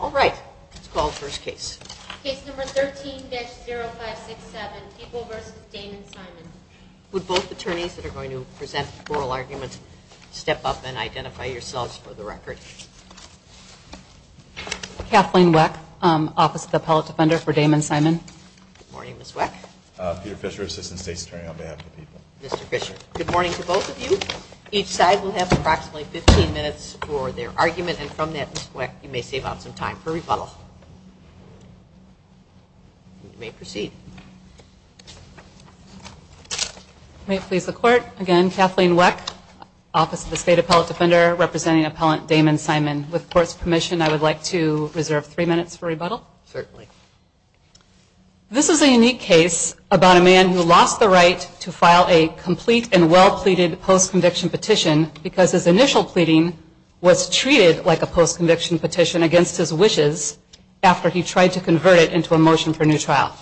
All right, let's call the first case. Case number 13-0567, Peeble v. Damon Simon. Would both attorneys that are going to present oral arguments step up and identify yourselves for the record. Kathleen Weck, Office of the Appellate Defender for Damon Simon. Good morning, Ms. Weck. Peter Fisher, Assistant State's Attorney on behalf of Peeble. Mr. Fisher, good morning to both of you. Each side will have approximately 15 minutes for their argument and from that, Ms. Weck, you may save up some time for rebuttal. You may proceed. May it please the court, again, Kathleen Weck, Office of the State Appellate Defender, representing Appellant Damon Simon. With court's permission, I would like to reserve three minutes for rebuttal. Certainly. This is a unique case about a man who lost the right to file a complete and well-pleaded post-conviction petition because his initial pleading was treated like a post-conviction petition against his wishes after he tried to convert it into a motion for new trial.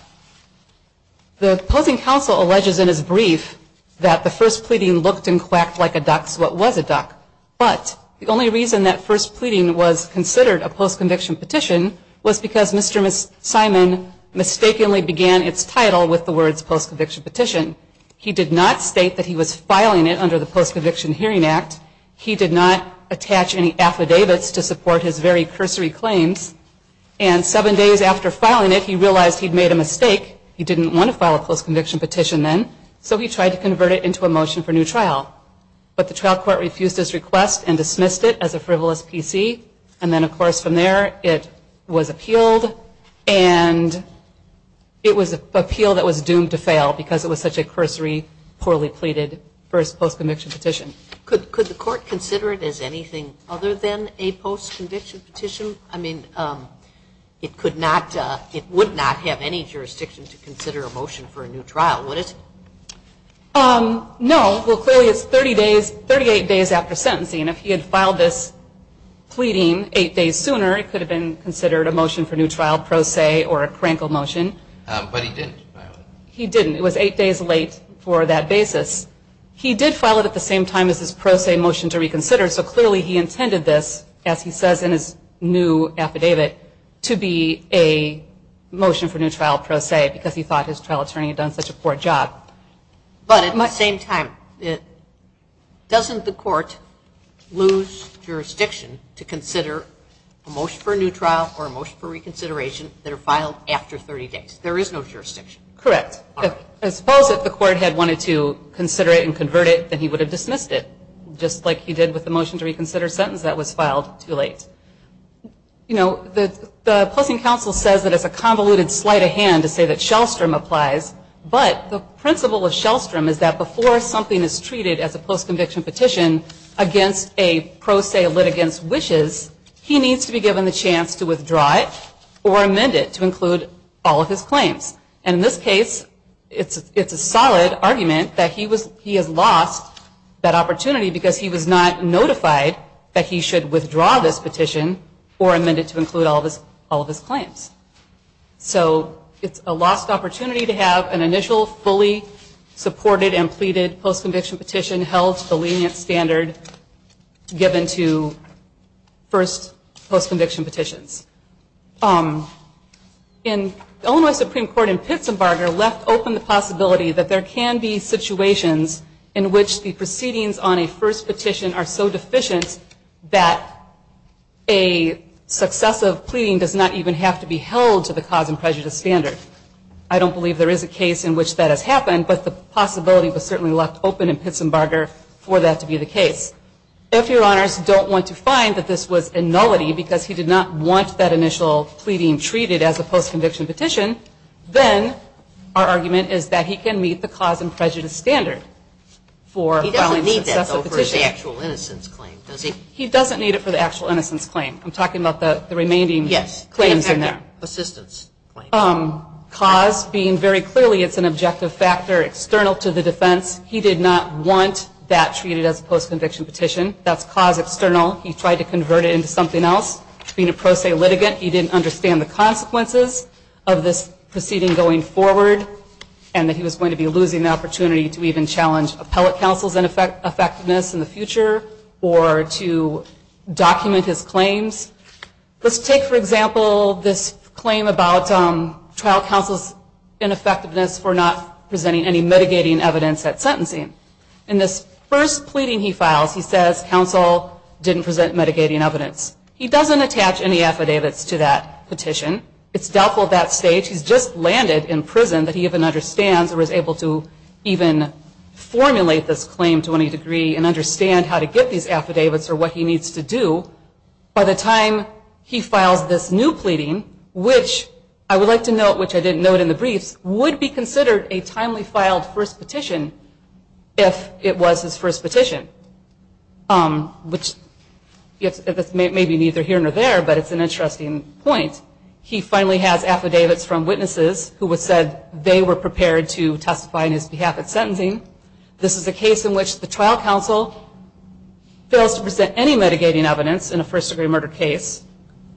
The opposing counsel alleges in his brief that the first pleading looked and quacked like a duck, so it was a duck. But the only reason that first pleading was considered a post-conviction petition was because Mr. Simon mistakenly began its title with the words post-conviction petition. He did not state that he was filing it under the Post-Conviction Hearing Act. He did not attach any affidavits to support his very cursory claims. And seven days after filing it, he realized he'd made a mistake. He didn't want to file a post-conviction petition then, so he tried to convert it into a motion for new trial. But the trial court refused his request and dismissed it as a frivolous PC. And then, of course, from there, it was appealed and it was an appeal that was doomed to fail because it was such a cursory, poorly pleaded first post-conviction petition. Could the court consider it as anything other than a post-conviction petition? I mean, it would not have any jurisdiction to consider a motion for a new trial, would it? No. Well, clearly it's 38 days after sentencing, and if he had filed this pleading eight days sooner, it could have been considered a motion for new trial pro se or a crankle motion. But he didn't file it. He didn't. It was eight days late for that basis. He did file it at the same time as his pro se motion to reconsider, so clearly he intended this, as he says in his new affidavit, to be a motion for new trial pro se because he thought his trial attorney had done such a poor job. But at the same time, doesn't the court lose jurisdiction to consider a motion for a new trial or a motion for reconsideration that are filed after 30 days? There is no jurisdiction. Correct. All right. I suppose if the court had wanted to consider it and convert it, then he would have dismissed it, just like he did with the motion to reconsider sentence that was filed too late. You know, the Pleasing Counsel says that it's a convoluted sleight of hand to say that Shellstrom applies, but the principle of Shellstrom is that before something is treated as a post-conviction petition against a pro se litigant's wishes, he needs to be given the chance to withdraw it or amend it to include all of his claims. And in this case, it's a solid argument that he has lost that opportunity because he was not notified that he should withdraw this petition or amend it to include all of his claims. So it's a lost opportunity to have an initial, fully supported and pleaded post-conviction petition held to the lenient standard given to first post-conviction petitions. The Illinois Supreme Court in Pittsburgh left open the possibility that there can be situations in which the proceedings on a first petition are so deficient that a successive pleading does not even have to be held to the cause and prejudice standard. I don't believe there is a case in which that has happened, but the possibility was certainly left open in Pittsburgh for that to be the case. If Your Honors don't want to find that this was a nullity because he did not want that initial pleading treated as a post-conviction petition, then our argument is that he can meet the cause and prejudice standard for filing a successive petition. He doesn't need that, though, for his actual innocence claim, does he? He doesn't need it for the actual innocence claim. I'm talking about the remaining claims in there. Cause being very clearly it's an objective factor external to the defense. He did not want that treated as a post-conviction petition. That's cause external. He tried to convert it into something else. Being a pro se litigant, he didn't understand the consequences of this proceeding going forward and that he was going to be losing the opportunity to even challenge appellate counsel's effectiveness in the future or to document his claims. Let's take, for example, this claim about trial counsel's ineffectiveness for not presenting any mitigating evidence at sentencing. In this first pleading he files, he says counsel didn't present mitigating evidence. He doesn't attach any affidavits to that petition. It's doubtful at that stage. He's just landed in prison that he even understands or is able to even formulate this claim to any degree and understand how to get these affidavits or what he needs to do. By the time he files this new pleading, which I would like to note, which I didn't note in the briefs, would be considered a timely filed first petition if it was his first petition, which maybe neither here nor there, but it's an interesting point. He finally has affidavits from witnesses who said they were prepared to testify on his behalf at sentencing. This is a case in which the trial counsel fails to present any mitigating evidence in a first-degree murder case,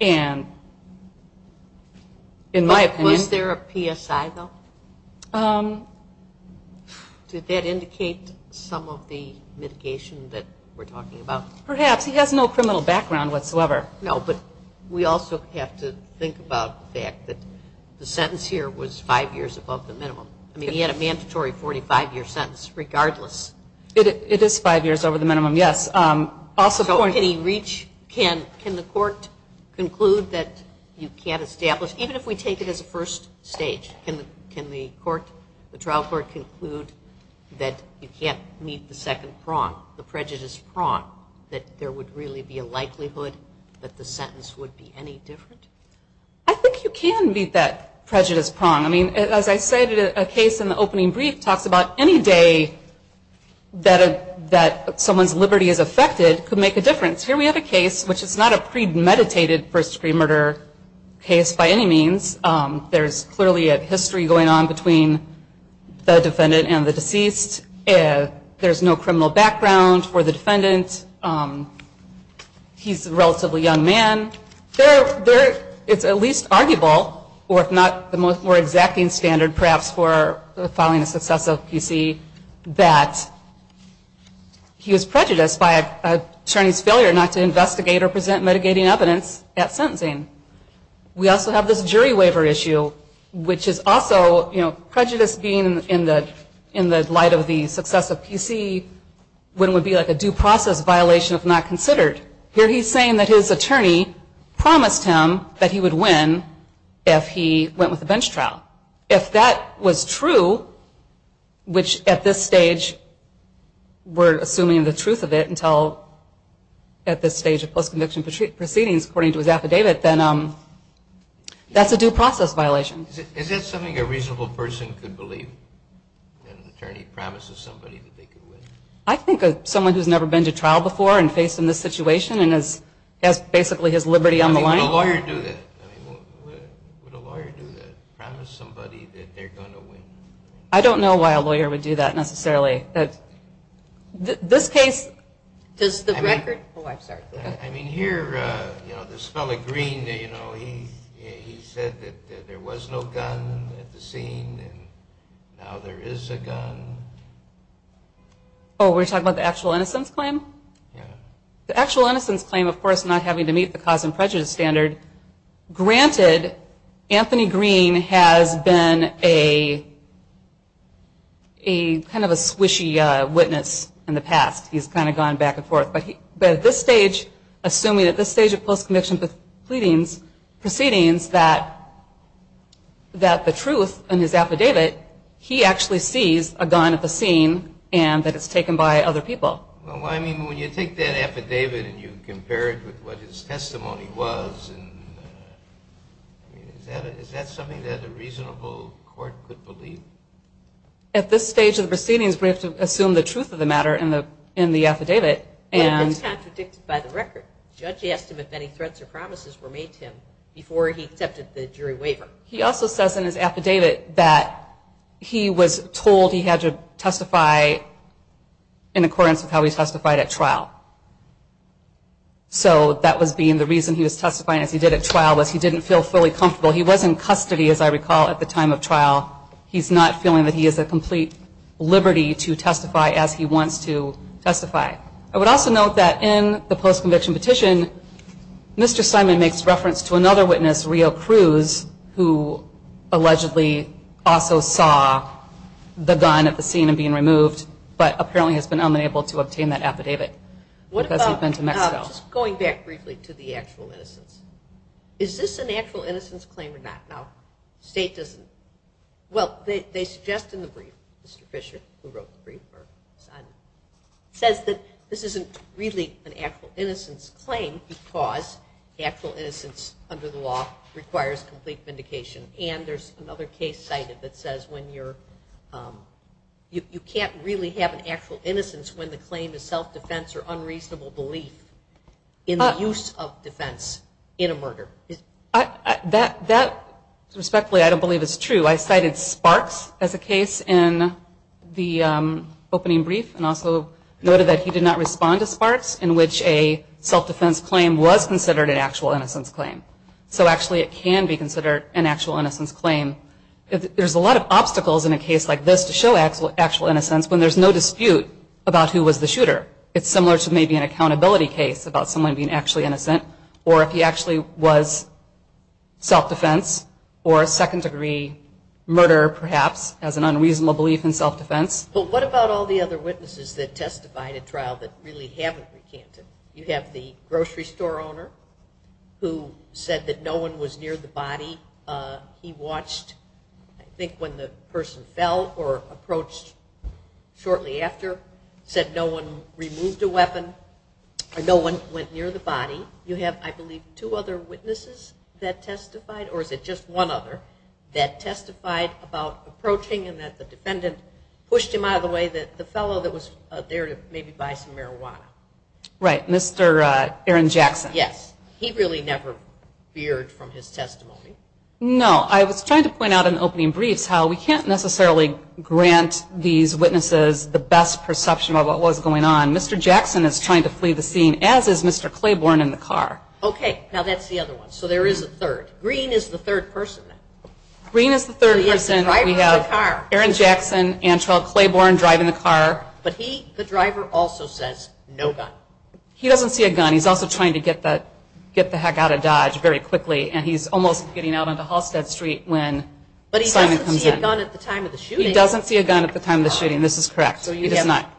and in my opinion. Was there a PSI, though? Did that indicate some of the mitigation that we're talking about? Perhaps. He has no criminal background whatsoever. No, but we also have to think about the fact that the sentence here was five years above the minimum. I mean, he had a mandatory 45-year sentence regardless. It is five years over the minimum, yes. Can the court conclude that you can't establish, even if we take it as a first stage, can the trial court conclude that you can't meet the second prong, the prejudice prong, that there would really be a likelihood that the sentence would be any different? I think you can meet that prejudice prong. I mean, as I said, a case in the opening brief talks about any day that someone's liberty is affected could make a difference. Here we have a case which is not a premeditated first-degree murder case by any means. There's clearly a history going on between the defendant and the deceased. There's no criminal background for the defendant. He's a relatively young man. It's at least arguable, or if not the more exacting standard perhaps for filing a successive PC, that he was prejudiced by an attorney's failure not to investigate or present mitigating evidence at sentencing. We also have this jury waiver issue, which is also prejudice being in the light of the successive PC when it would be like a due process violation if not considered. Here he's saying that his attorney promised him that he would win if he went with a bench trial. If that was true, which at this stage we're assuming the truth of it until at this stage of post-conviction proceedings according to his affidavit, then that's a due process violation. Is that something a reasonable person could believe, that an attorney promises somebody that they could win? I think someone who's never been to trial before and faced in this situation and has basically his liberty on the line. I mean, would a lawyer do that? I mean, would a lawyer do that, promise somebody that they're going to win? I don't know why a lawyer would do that necessarily. This case... Does the record... Oh, I'm sorry. I mean, here, you know, this fellow Green, you know, he said that there was no gun at the scene and now there is a gun. Oh, we're talking about the actual innocence claim? Yeah. The actual innocence claim, of course, not having to meet the cause and prejudice standard. Granted, Anthony Green has been a kind of a swishy witness in the past. He's kind of gone back and forth. But at this stage, assuming at this stage of post-conviction proceedings that the truth in his affidavit, he actually sees a gun at the scene and that it's taken by other people. Well, I mean, when you take that affidavit and you compare it with what his testimony was, is that something that a reasonable court could believe? At this stage of the proceedings, we have to assume the truth of the matter in the affidavit. Well, it's contradicted by the record. The judge asked him if any threats or promises were made to him before he accepted the jury waiver. He also says in his affidavit that he was told he had to testify in accordance with how he testified at trial. So that was being the reason he was testifying as he did at trial was he didn't feel fully comfortable. He was in custody, as I recall, at the time of trial. He's not feeling that he has a complete liberty to testify as he wants to testify. I would also note that in the post-conviction petition, Mr. Simon makes reference to another witness, Rio Cruz, who allegedly also saw the gun at the scene and being removed, but apparently has been unable to obtain that affidavit because he's been to Mexico. Just going back briefly to the actual innocence, is this an actual innocence claim or not? Well, they suggest in the brief, Mr. Fisher, who wrote the brief, says that this isn't really an actual innocence claim because actual innocence under the law requires complete vindication. And there's another case cited that says you can't really have an actual innocence when the claim is self-defense or unreasonable belief in the use of defense in a murder. That, respectfully, I don't believe is true. I cited Sparks as a case in the opening brief and also noted that he did not respond to Sparks in which a self-defense claim was considered an actual innocence claim. So actually it can be considered an actual innocence claim. There's a lot of obstacles in a case like this to show actual innocence when there's no dispute about who was the shooter. It's similar to maybe an accountability case about someone being actually innocent or if he actually was self-defense or a second-degree murderer, perhaps, as an unreasonable belief in self-defense. But what about all the other witnesses that testified at trial that really haven't recanted? You have the grocery store owner who said that no one was near the body. He watched, I think, when the person fell or approached shortly after, said no one removed a weapon or no one went near the body. You have, I believe, two other witnesses that testified, or is it just one other, that testified about approaching and that the defendant pushed him out of the way, the fellow that was there to maybe buy some marijuana. Right, Mr. Aaron Jackson. Yes, he really never veered from his testimony. No, I was trying to point out in opening briefs how we can't necessarily grant these witnesses the best perception of what was going on. Mr. Jackson is trying to flee the scene, as is Mr. Claiborne in the car. Okay, now that's the other one. So there is a third. Green is the third person. Green is the third person. We have Aaron Jackson, Antrell Claiborne driving the car. But he, the driver, also says no gun. He doesn't see a gun. He's also trying to get the heck out of Dodge very quickly, and he's almost getting out onto Halstead Street when Simon comes in. But he doesn't see a gun at the time of the shooting. He doesn't see a gun at the time of the shooting. This is correct. He does not.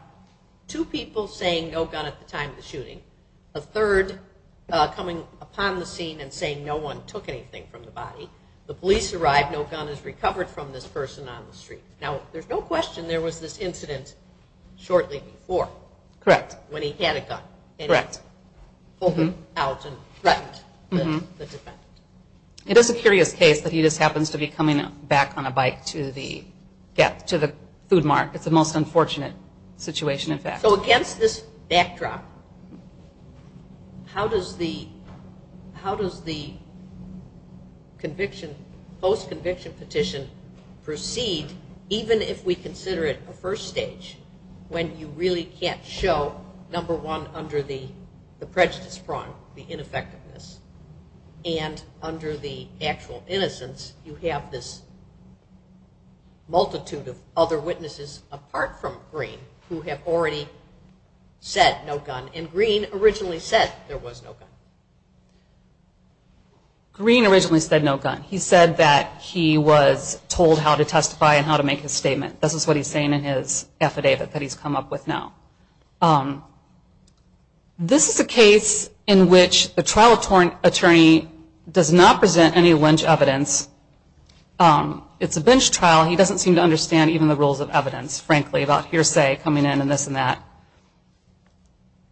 Two people saying no gun at the time of the shooting. A third coming upon the scene and saying no one took anything from the body. The police arrived. No gun is recovered from this person on the street. Now, there's no question there was this incident shortly before. Correct. When he had a gun. Correct. And he pulled it out and threatened the defendant. It is a curious case that he just happens to be coming back on a bike to the food mart. It's a most unfortunate situation, in fact. So against this backdrop, how does the post-conviction petition proceed, even if we consider it a first stage when you really can't show, number one, under the prejudice prong, the ineffectiveness, and under the actual innocence, you have this multitude of other witnesses, apart from Green, who have already said no gun. And Green originally said there was no gun. Green originally said no gun. He said that he was told how to testify and how to make his statement. This is what he's saying in his affidavit that he's come up with now. This is a case in which the trial attorney does not present any lynch evidence. It's a bench trial. He doesn't seem to understand even the rules of evidence, frankly, about hearsay coming in and this and that.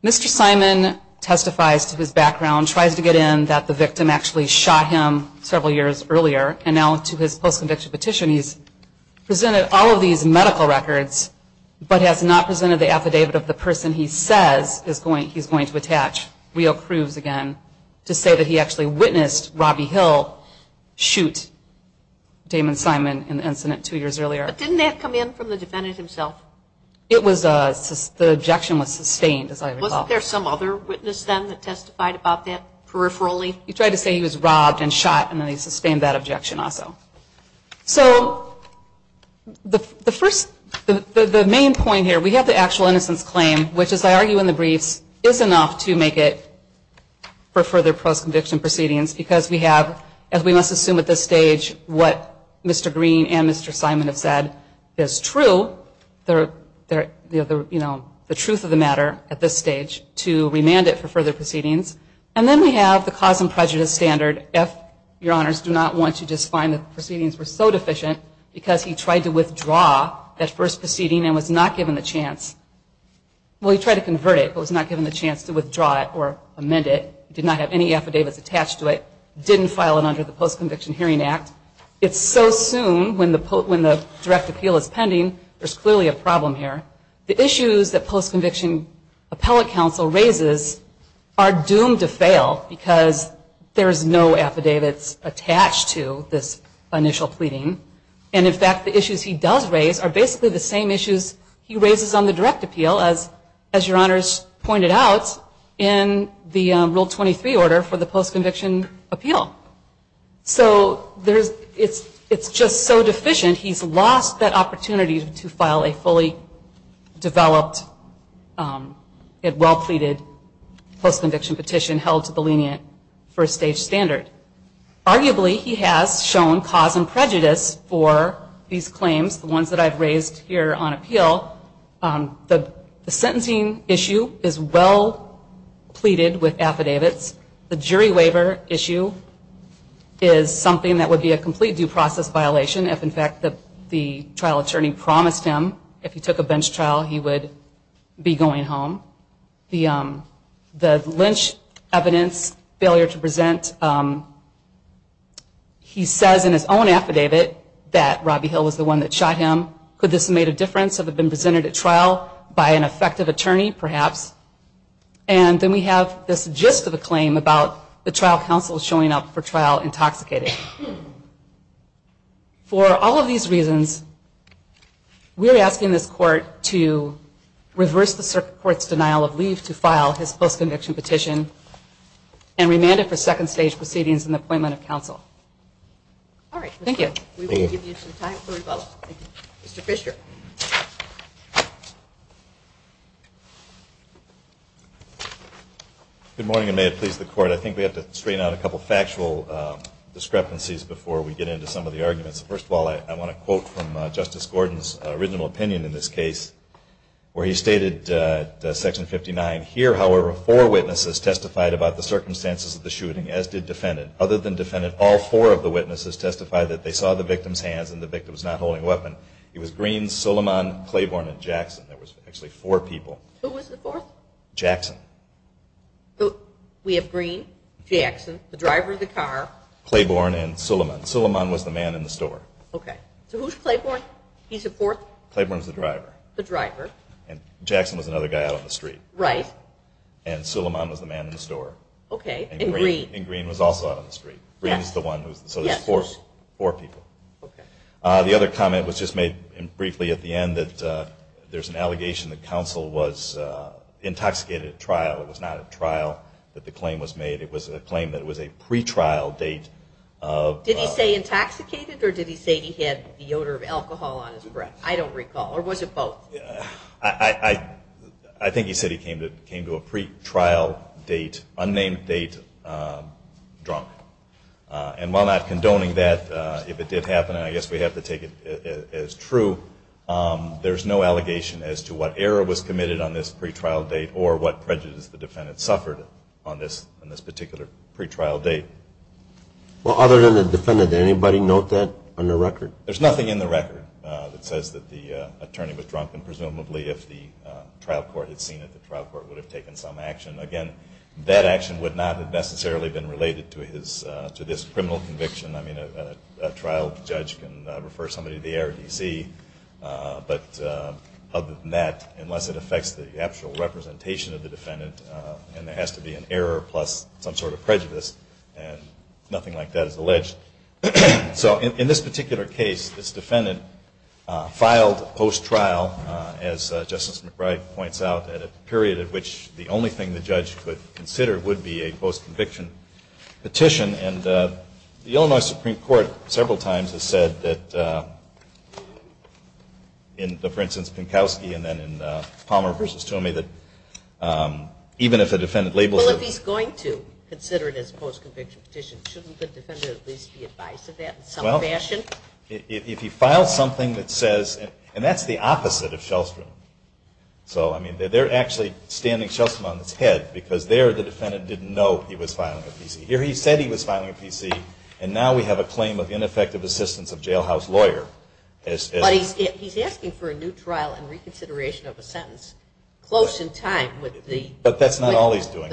Mr. Simon testifies to his background, tries to get in that the victim actually shot him several years earlier, and now to his post-conviction petition he's presented all of these medical records but has not presented the affidavit of the person he says he's going to attach real proofs again to say that he actually witnessed Robbie Hill shoot Damon Simon in the incident two years earlier. But didn't that come in from the defendant himself? The objection was sustained, as I recall. Wasn't there some other witness then that testified about that peripherally? He tried to say he was robbed and shot, and then he sustained that objection also. So the main point here, we have the actual innocence claim, which, as I argue in the briefs, is enough to make it for further post-conviction proceedings because we have, as we must assume at this stage, what Mr. Green and Mr. Simon have said is true, the truth of the matter at this stage, to remand it for further proceedings. And then we have the cause and prejudice standard. If your honors do not want to just find that the proceedings were so deficient because he tried to withdraw that first proceeding and was not given the chance, well, he tried to convert it but was not given the chance to withdraw it or amend it, did not have any affidavits attached to it, didn't file it under the Post-Conviction Hearing Act, it's so soon when the direct appeal is pending, there's clearly a problem here. The issues that post-conviction appellate counsel raises are doomed to fail because there's no affidavits attached to this initial pleading. And, in fact, the issues he does raise are basically the same issues he raises on the direct appeal, as your honors pointed out, in the Rule 23 order for the post-conviction appeal. So it's just so deficient he's lost that opportunity to file a fully developed and well-pleaded post-conviction petition held to the lenient first stage standard. Arguably, he has shown cause and prejudice for these claims, the ones that I've raised here on appeal. The sentencing issue is well-pleaded with affidavits. The jury waiver issue is something that would be a complete due process violation if, in fact, the trial attorney promised him if he took a bench trial he would be going home. The Lynch evidence, failure to present, he says in his own affidavit that Robbie Hill was the one that shot him. Could this have made a difference? Could the evidence have been presented at trial by an effective attorney, perhaps? And then we have this gist of a claim about the trial counsel showing up for trial intoxicated. For all of these reasons, we're asking this court to reverse the court's denial of leave to file his post-conviction petition and remand it for second stage proceedings and the appointment of counsel. All right. Thank you. Mr. Fisher. Good morning, and may it please the court. I think we have to straighten out a couple of factual discrepancies before we get into some of the arguments. First of all, I want to quote from Justice Gordon's original opinion in this case where he stated, section 59, here, however, four witnesses testified about the circumstances of the shooting, as did defendant. Other than defendant, all four of the witnesses testified that they saw the victim's hands and the victim was not holding a weapon. It was Green, Suleiman, Claiborne, and Jackson. There was actually four people. Who was the fourth? Jackson. We have Green, Jackson, the driver of the car. Claiborne and Suleiman. Suleiman was the man in the store. Okay. So who's Claiborne? He's the fourth? Claiborne's the driver. The driver. And Jackson was another guy out on the street. Right. And Suleiman was the man in the store. Okay. And Green? And Green was also out on the street. Green's the one who's the fourth? Yes. Four people. Okay. The other comment was just made briefly at the end that there's an allegation that counsel was intoxicated at trial. It was not at trial that the claim was made. It was a claim that it was a pretrial date of... Did he say intoxicated, or did he say he had the odor of alcohol on his breath? I don't recall. Or was it both? I think he said he came to a pretrial date, unnamed date, drunk. And while not condoning that, if it did happen, and I guess we have to take it as true, there's no allegation as to what error was committed on this pretrial date or what prejudice the defendant suffered on this particular pretrial date. Well, other than the defendant, did anybody note that on the record? There's nothing in the record that says that the attorney was drunk and presumably if the trial court had seen it, the trial court would have taken some action. Again, that action would not have necessarily been related to this criminal conviction. I mean, a trial judge can refer somebody to the ARDC. But other than that, unless it affects the actual representation of the defendant, and there has to be an error plus some sort of prejudice, and nothing like that is alleged. So in this particular case, this defendant filed post-trial, as Justice McBride points out, at a period at which the only thing the judge could consider would be a post-conviction petition. And the Illinois Supreme Court several times has said that in, for instance, Pinkowski and then in Palmer v. Toomey, that even if a defendant labels it. Well, if he's going to consider it as a post-conviction petition, shouldn't the defendant at least be advised of that in some fashion? Well, if he files something that says, and that's the opposite of Shellstrom. So, I mean, they're actually standing Shellstrom on his head, because there the defendant didn't know he was filing a PC. Here he said he was filing a PC, and now we have a claim of ineffective assistance of jailhouse lawyer. But he's asking for a new trial and reconsideration of a sentence close in time with the trial. But that's not all he's doing.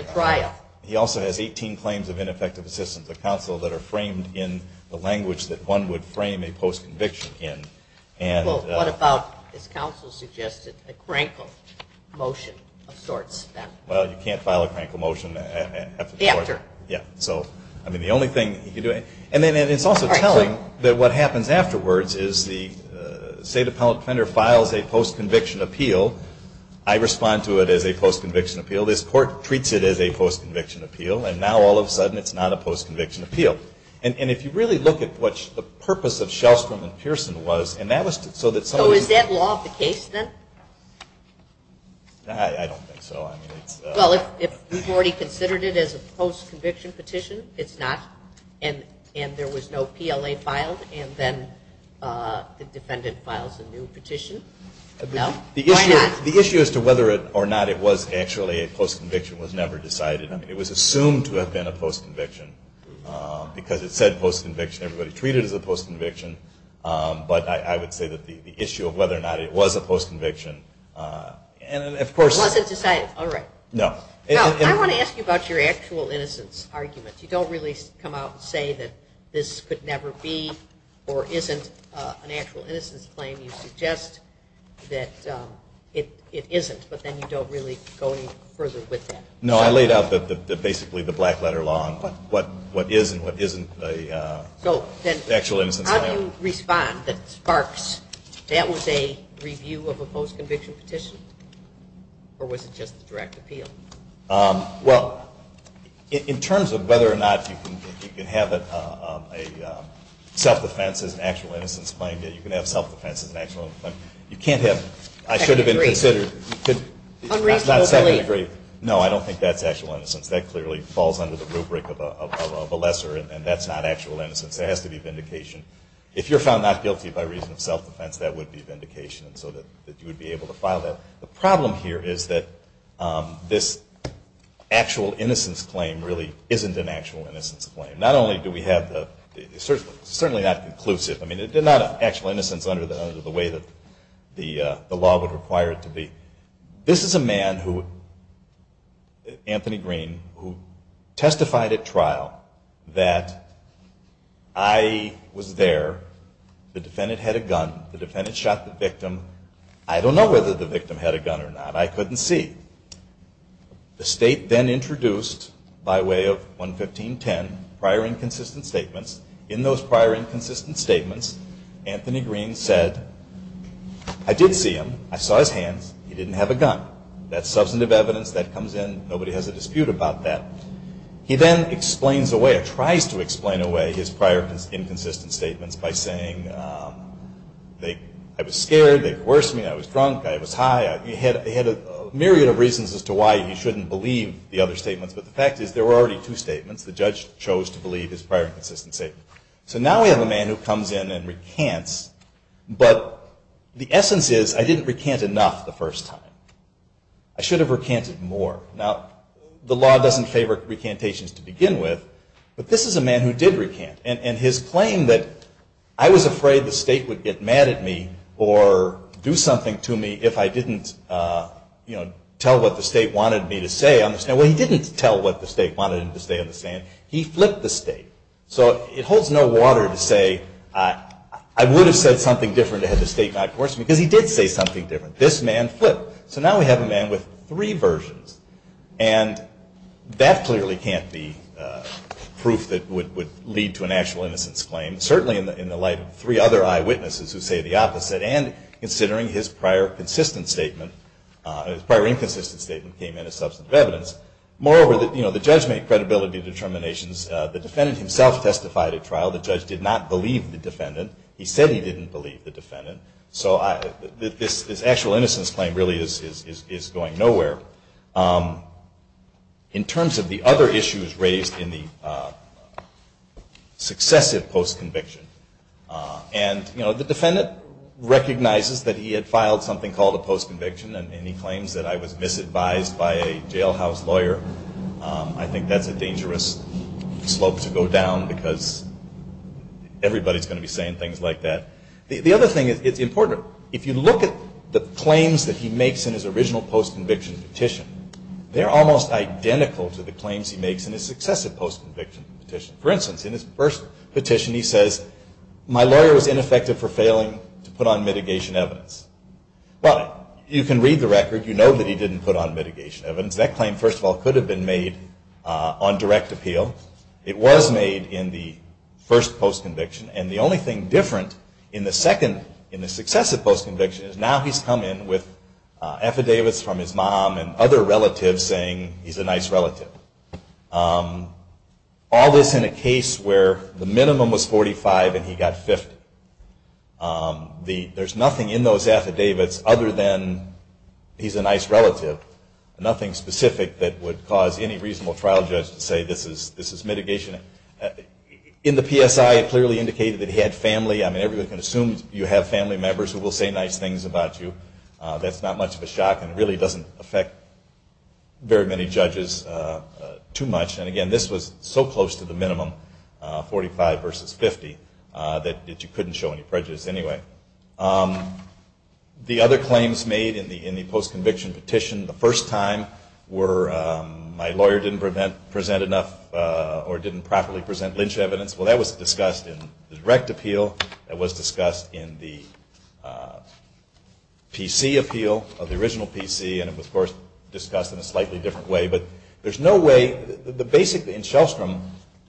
He also has 18 claims of ineffective assistance, a counsel that are framed in the language that one would frame a post-conviction in. Well, what about, as counsel suggested, a crankle motion of sorts then? Well, you can't file a crankle motion. After. Yeah. So, I mean, the only thing he can do. And then it's also telling that what happens afterwards is the state defendant files a post-conviction appeal. I respond to it as a post-conviction appeal. This court treats it as a post-conviction appeal, and now all of a sudden it's not a post-conviction appeal. And if you really look at what the purpose of Shellstrom and Pearson was, and that was so that some of these. So is that law of the case then? I don't think so. Well, if you've already considered it as a post-conviction petition, it's not. And there was no PLA filed, and then the defendant files a new petition. No? Why not? The issue as to whether or not it was actually a post-conviction was never decided. I mean, it was assumed to have been a post-conviction because it said post-conviction. Everybody treated it as a post-conviction. But I would say that the issue of whether or not it was a post-conviction, and of course. It wasn't decided. All right. No. I want to ask you about your actual innocence argument. You don't really come out and say that this could never be or isn't an actual innocence claim. You suggest that it isn't, but then you don't really go any further with that. No, I laid out basically the black letter law on what is and what isn't an actual innocence claim. So how do you respond that sparks that was a review of a post-conviction petition? Or was it just a direct appeal? Well, in terms of whether or not you can have a self-defense as an actual innocence claim, you can have self-defense as an actual innocence claim. You can't have I should have been considered. Unreasonable belief. No, I don't think that's actual innocence. That clearly falls under the rubric of a lesser, and that's not actual innocence. There has to be vindication. If you're found not guilty by reason of self-defense, that would be vindication, so that you would be able to file that. The problem here is that this actual innocence claim really isn't an actual innocence claim. Not only do we have the certainly not conclusive. I mean, it did not have actual innocence under the way that the law would require it to be. This is a man, Anthony Green, who testified at trial that I was there. The defendant had a gun. The defendant shot the victim. I don't know whether the victim had a gun or not. I couldn't see. The state then introduced, by way of 11510, prior inconsistent statements. In those prior inconsistent statements, Anthony Green said, I did see him. I saw his hands. He didn't have a gun. That's substantive evidence. That comes in. Nobody has a dispute about that. He then explains away or tries to explain away his prior inconsistent statements by saying, I was scared. They coerced me. I was drunk. I was high. He had a myriad of reasons as to why he shouldn't believe the other statements, but the fact is there were already two statements. The judge chose to believe his prior inconsistent statement. So now we have a man who comes in and recants, but the essence is I didn't recant enough the first time. I should have recanted more. Now, the law doesn't favor recantations to begin with, but this is a man who did recant, and his claim that I was afraid the state would get mad at me or do something to me if I didn't tell what the state wanted me to say on the stand. He flipped the state. So it holds no water to say I would have said something different had the state not coerced me, because he did say something different. This man flipped. So now we have a man with three versions, and that clearly can't be proof that would lead to an actual innocence claim, certainly in the light of three other eyewitnesses who say the opposite, and considering his prior consistent statement, his prior inconsistent statement came in as substantive evidence. Moreover, the judge made credibility determinations. The defendant himself testified at trial. The judge did not believe the defendant. He said he didn't believe the defendant. So this actual innocence claim really is going nowhere. In terms of the other issues raised in the successive post-conviction, and the defendant recognizes that he had filed something called a post-conviction, and he claims that I was misadvised by a jailhouse lawyer. I think that's a dangerous slope to go down, because everybody's going to be saying things like that. The other thing is it's important. If you look at the claims that he makes in his original post-conviction petition, they're almost identical to the claims he makes in his successive post-conviction petition. For instance, in his first petition he says, my lawyer was ineffective for failing to put on mitigation evidence. Well, you can read the record. You know that he didn't put on mitigation evidence. That claim, first of all, could have been made on direct appeal. It was made in the first post-conviction. And the only thing different in the second, in the successive post-conviction, is now he's come in with affidavits from his mom and other relatives saying he's a nice relative. All this in a case where the minimum was 45 and he got 50. There's nothing in those affidavits other than he's a nice relative, nothing specific that would cause any reasonable trial judge to say this is mitigation. In the PSI it clearly indicated that he had family. I mean, everybody can assume you have family members who will say nice things about you. That's not much of a shock, and it really doesn't affect very many judges too much. And, again, this was so close to the minimum, 45 versus 50, that you couldn't show any prejudice anyway. The other claims made in the post-conviction petition the first time were my lawyer didn't present enough or didn't properly present lynch evidence. Well, that was discussed in the direct appeal. That was discussed in the PC appeal of the original PC. And it was, of course, discussed in a slightly different way. But there's no way the basic in Shellstrom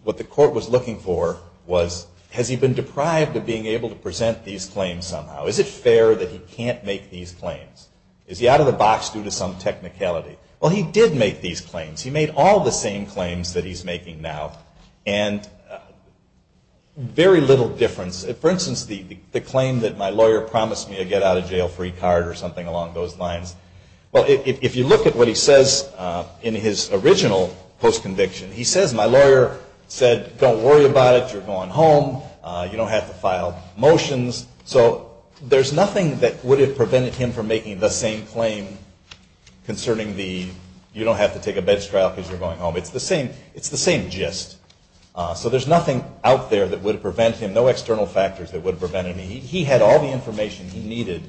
what the court was looking for was has he been deprived of being able to present these claims somehow? Is it fair that he can't make these claims? Is he out of the box due to some technicality? Well, he did make these claims. He made all the same claims that he's making now, and very little difference. For instance, the claim that my lawyer promised me a get-out-of-jail-free card or something along those lines. Well, if you look at what he says in his original post-conviction, he says my lawyer said don't worry about it. You're going home. You don't have to file motions. So there's nothing that would have prevented him from making the same claim concerning the you don't have to take a bench trial because you're going home. It's the same gist. So there's nothing out there that would have prevented him, no external factors that would have prevented him. He had all the information he needed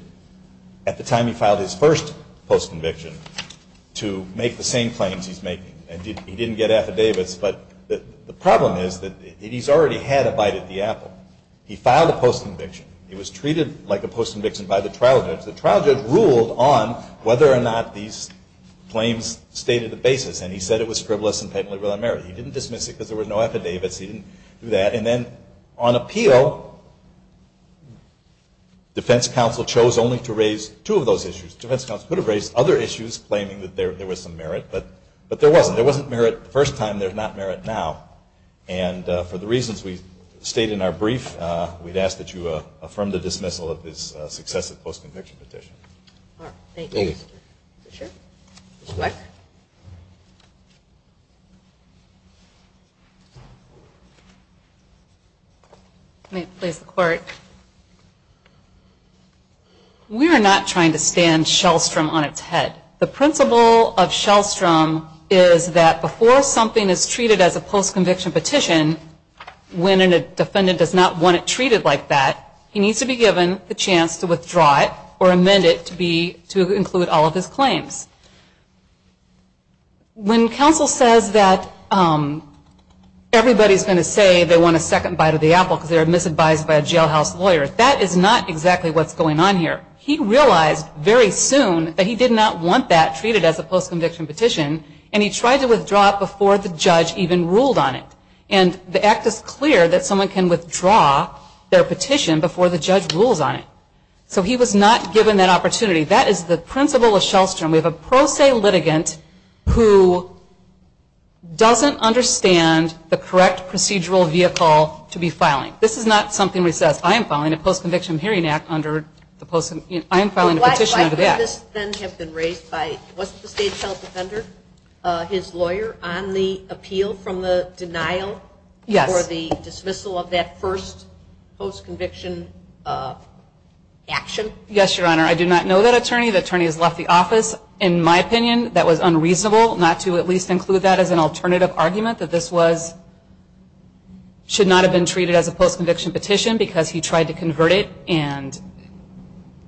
at the time he filed his first post-conviction to make the same claims he's making. He didn't get affidavits. But the problem is that he's already had a bite at the apple. He filed a post-conviction. He was treated like a post-conviction by the trial judge. The trial judge ruled on whether or not these claims stated the basis, and he said it was frivolous and patently without merit. He didn't dismiss it because there were no affidavits. He didn't do that. And then on appeal, defense counsel chose only to raise two of those issues. Defense counsel could have raised other issues claiming that there was some merit, but there wasn't. There wasn't merit the first time. There's not merit now. And for the reasons we state in our brief, we'd ask that you affirm the dismissal of his successive post-conviction petition. Thank you. Ms. Weck? Let me please the court. We are not trying to stand Shellstrom on its head. The principle of Shellstrom is that before something is treated as a post-conviction petition, when a defendant does not want it treated like that, he needs to be given the chance to withdraw it or amend it to include all of his claims. When counsel says that everybody's going to say they want a second bite of the apple because they're misadvised by a jailhouse lawyer, that is not exactly what's going on here. He realized very soon that he did not want that treated as a post-conviction petition, and he tried to withdraw it before the judge even ruled on it. And the act is clear that someone can withdraw their petition before the judge rules on it. So he was not given that opportunity. That is the principle of Shellstrom. We have a pro se litigant who doesn't understand the correct procedural vehicle to be filing. This is not something where he says, I am filing a post-conviction hearing act under the post-conviction, I am filing a petition under that. Why could this then have been raised by, was it the state's health defender, his lawyer on the appeal from the denial for the dismissal of that first post-conviction action? Yes, Your Honor. I do not know that attorney. The attorney has left the office. In my opinion, that was unreasonable not to at least include that as an alternative argument, that this should not have been treated as a post-conviction petition because he tried to convert it, and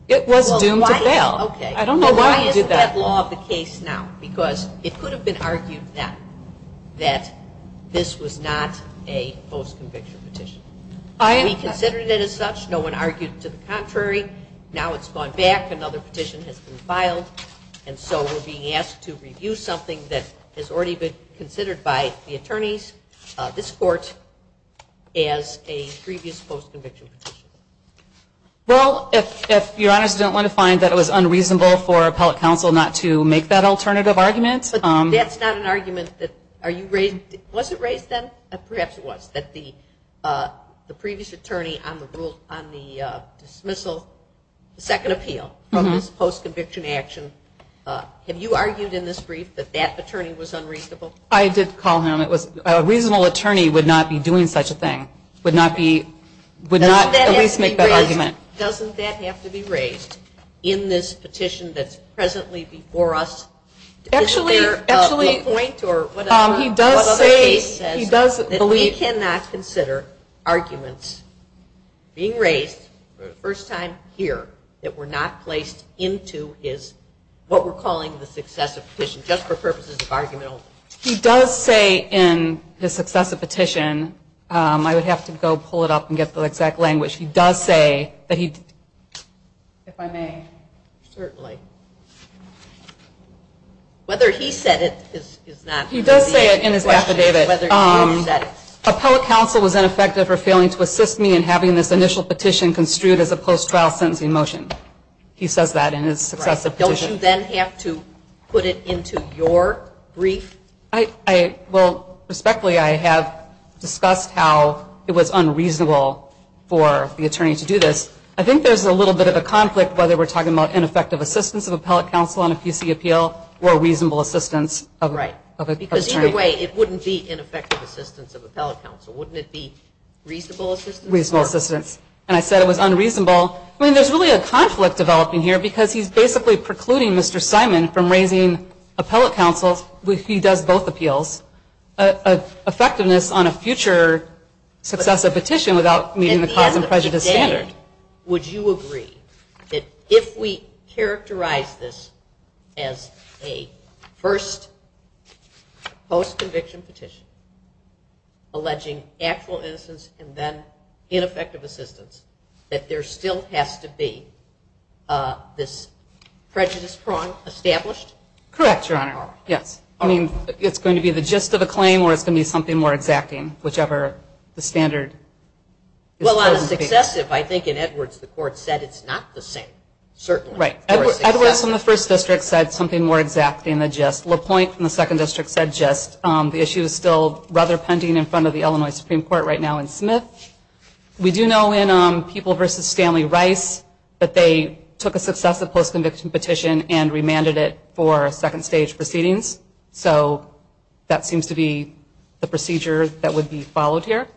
it was doomed to fail. Okay. I don't know why he did that. Why isn't that law of the case now? Because it could have been argued then that this was not a post-conviction petition. We considered it as such. No one argued to the contrary. Now it's gone back. Another petition has been filed. And so we're being asked to review something that has already been considered by the attorneys, this court, as a previous post-conviction petition. Well, if Your Honor's don't want to find that it was unreasonable for appellate counsel not to make that alternative argument. But that's not an argument that are you raised? Was it raised then? Perhaps it was, that the previous attorney on the rule, on the dismissal, the second appeal from this post-conviction action, have you argued in this brief that that attorney was unreasonable? I did call him. A reasonable attorney would not be doing such a thing. Would not be, would not at least make that argument. Doesn't that have to be raised in this petition that's presently before us? Actually, actually. Is there a point or whatever? He does say, he does believe. That we cannot consider arguments being raised, first time here, that were not placed into his, what we're calling the successive petition, just for purposes of argument. He does say in his successive petition, I would have to go pull it up and get the exact language. He does say that he, if I may. Certainly. Whether he said it is not. He does say it in his affidavit. Whether he said it. Appellate counsel was ineffective for failing to assist me in having this initial petition construed as a post-trial sentencing motion. He says that in his successive petition. Don't you then have to put it into your brief? I, well, respectfully, I have discussed how it was unreasonable for the attorney to do this. I think there's a little bit of a conflict, whether we're talking about ineffective assistance of appellate counsel on a PC appeal or reasonable assistance of an attorney. Because either way, it wouldn't be ineffective assistance of appellate counsel. Wouldn't it be reasonable assistance? Reasonable assistance. And I said it was unreasonable. Well, I mean, there's really a conflict developing here because he's basically precluding Mr. Simon from raising appellate counsel, which he does both appeals, effectiveness on a future successive petition without meeting the cause and prejudice standard. Would you agree that if we characterize this as a first post-conviction petition alleging actual innocence and then ineffective assistance, that there still has to be this prejudice prong established? Correct, Your Honor. Yes. I mean, it's going to be the gist of the claim or it's going to be something more exacting, whichever the standard is. Well, on a successive, I think in Edwards, the court said it's not the same, certainly. Right. Edwards in the first district said something more exacting than gist. LaPointe in the second district said gist. The issue is still rather pending in front of the Illinois Supreme Court right now in Smith. We do know in People v. Stanley Rice that they took a successive post-conviction petition and remanded it for second stage proceedings. So that seems to be the procedure that would be followed here.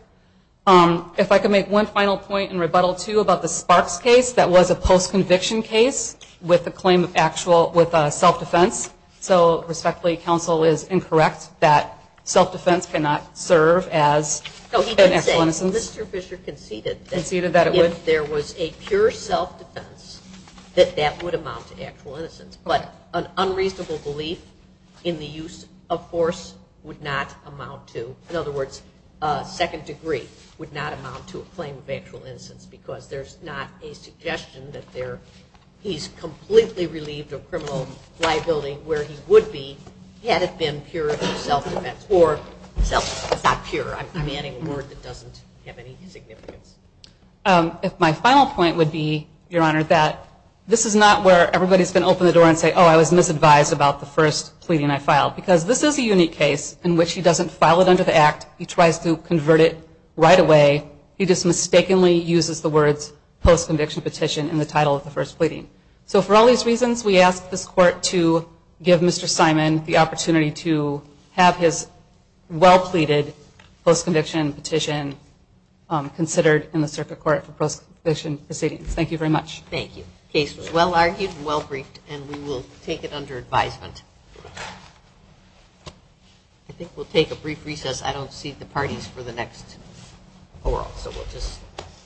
If I could make one final point in rebuttal, too, about the Sparks case, that was a post-conviction case with a claim of actual self-defense. So respectfully, counsel is incorrect that self-defense cannot serve as an actual innocence. Mr. Fisher conceded that if there was a pure self-defense, that that would amount to actual innocence. But an unreasonable belief in the use of force would not amount to, in other words, a second degree would not amount to a claim of actual innocence because there's not a suggestion that he's completely relieved of criminal liability where he would be had it been pure self-defense. Or self is not pure. I'm manning a word that doesn't have any significance. My final point would be, Your Honor, that this is not where everybody's going to open the door and say, oh, I was misadvised about the first pleading I filed. Because this is a unique case in which he doesn't file it under the Act. He tries to convert it right away. He just mistakenly uses the words post-conviction petition in the title of the first pleading. So for all these reasons, we ask this court to give Mr. Simon the opportunity to have his well-pleaded post-conviction petition considered in the circuit court for post-conviction proceedings. Thank you very much. Thank you. The case was well-argued and well-briefed, and we will take it under advisement. I think we'll take a brief recess. I don't see the parties for the next oral, so we'll just take it.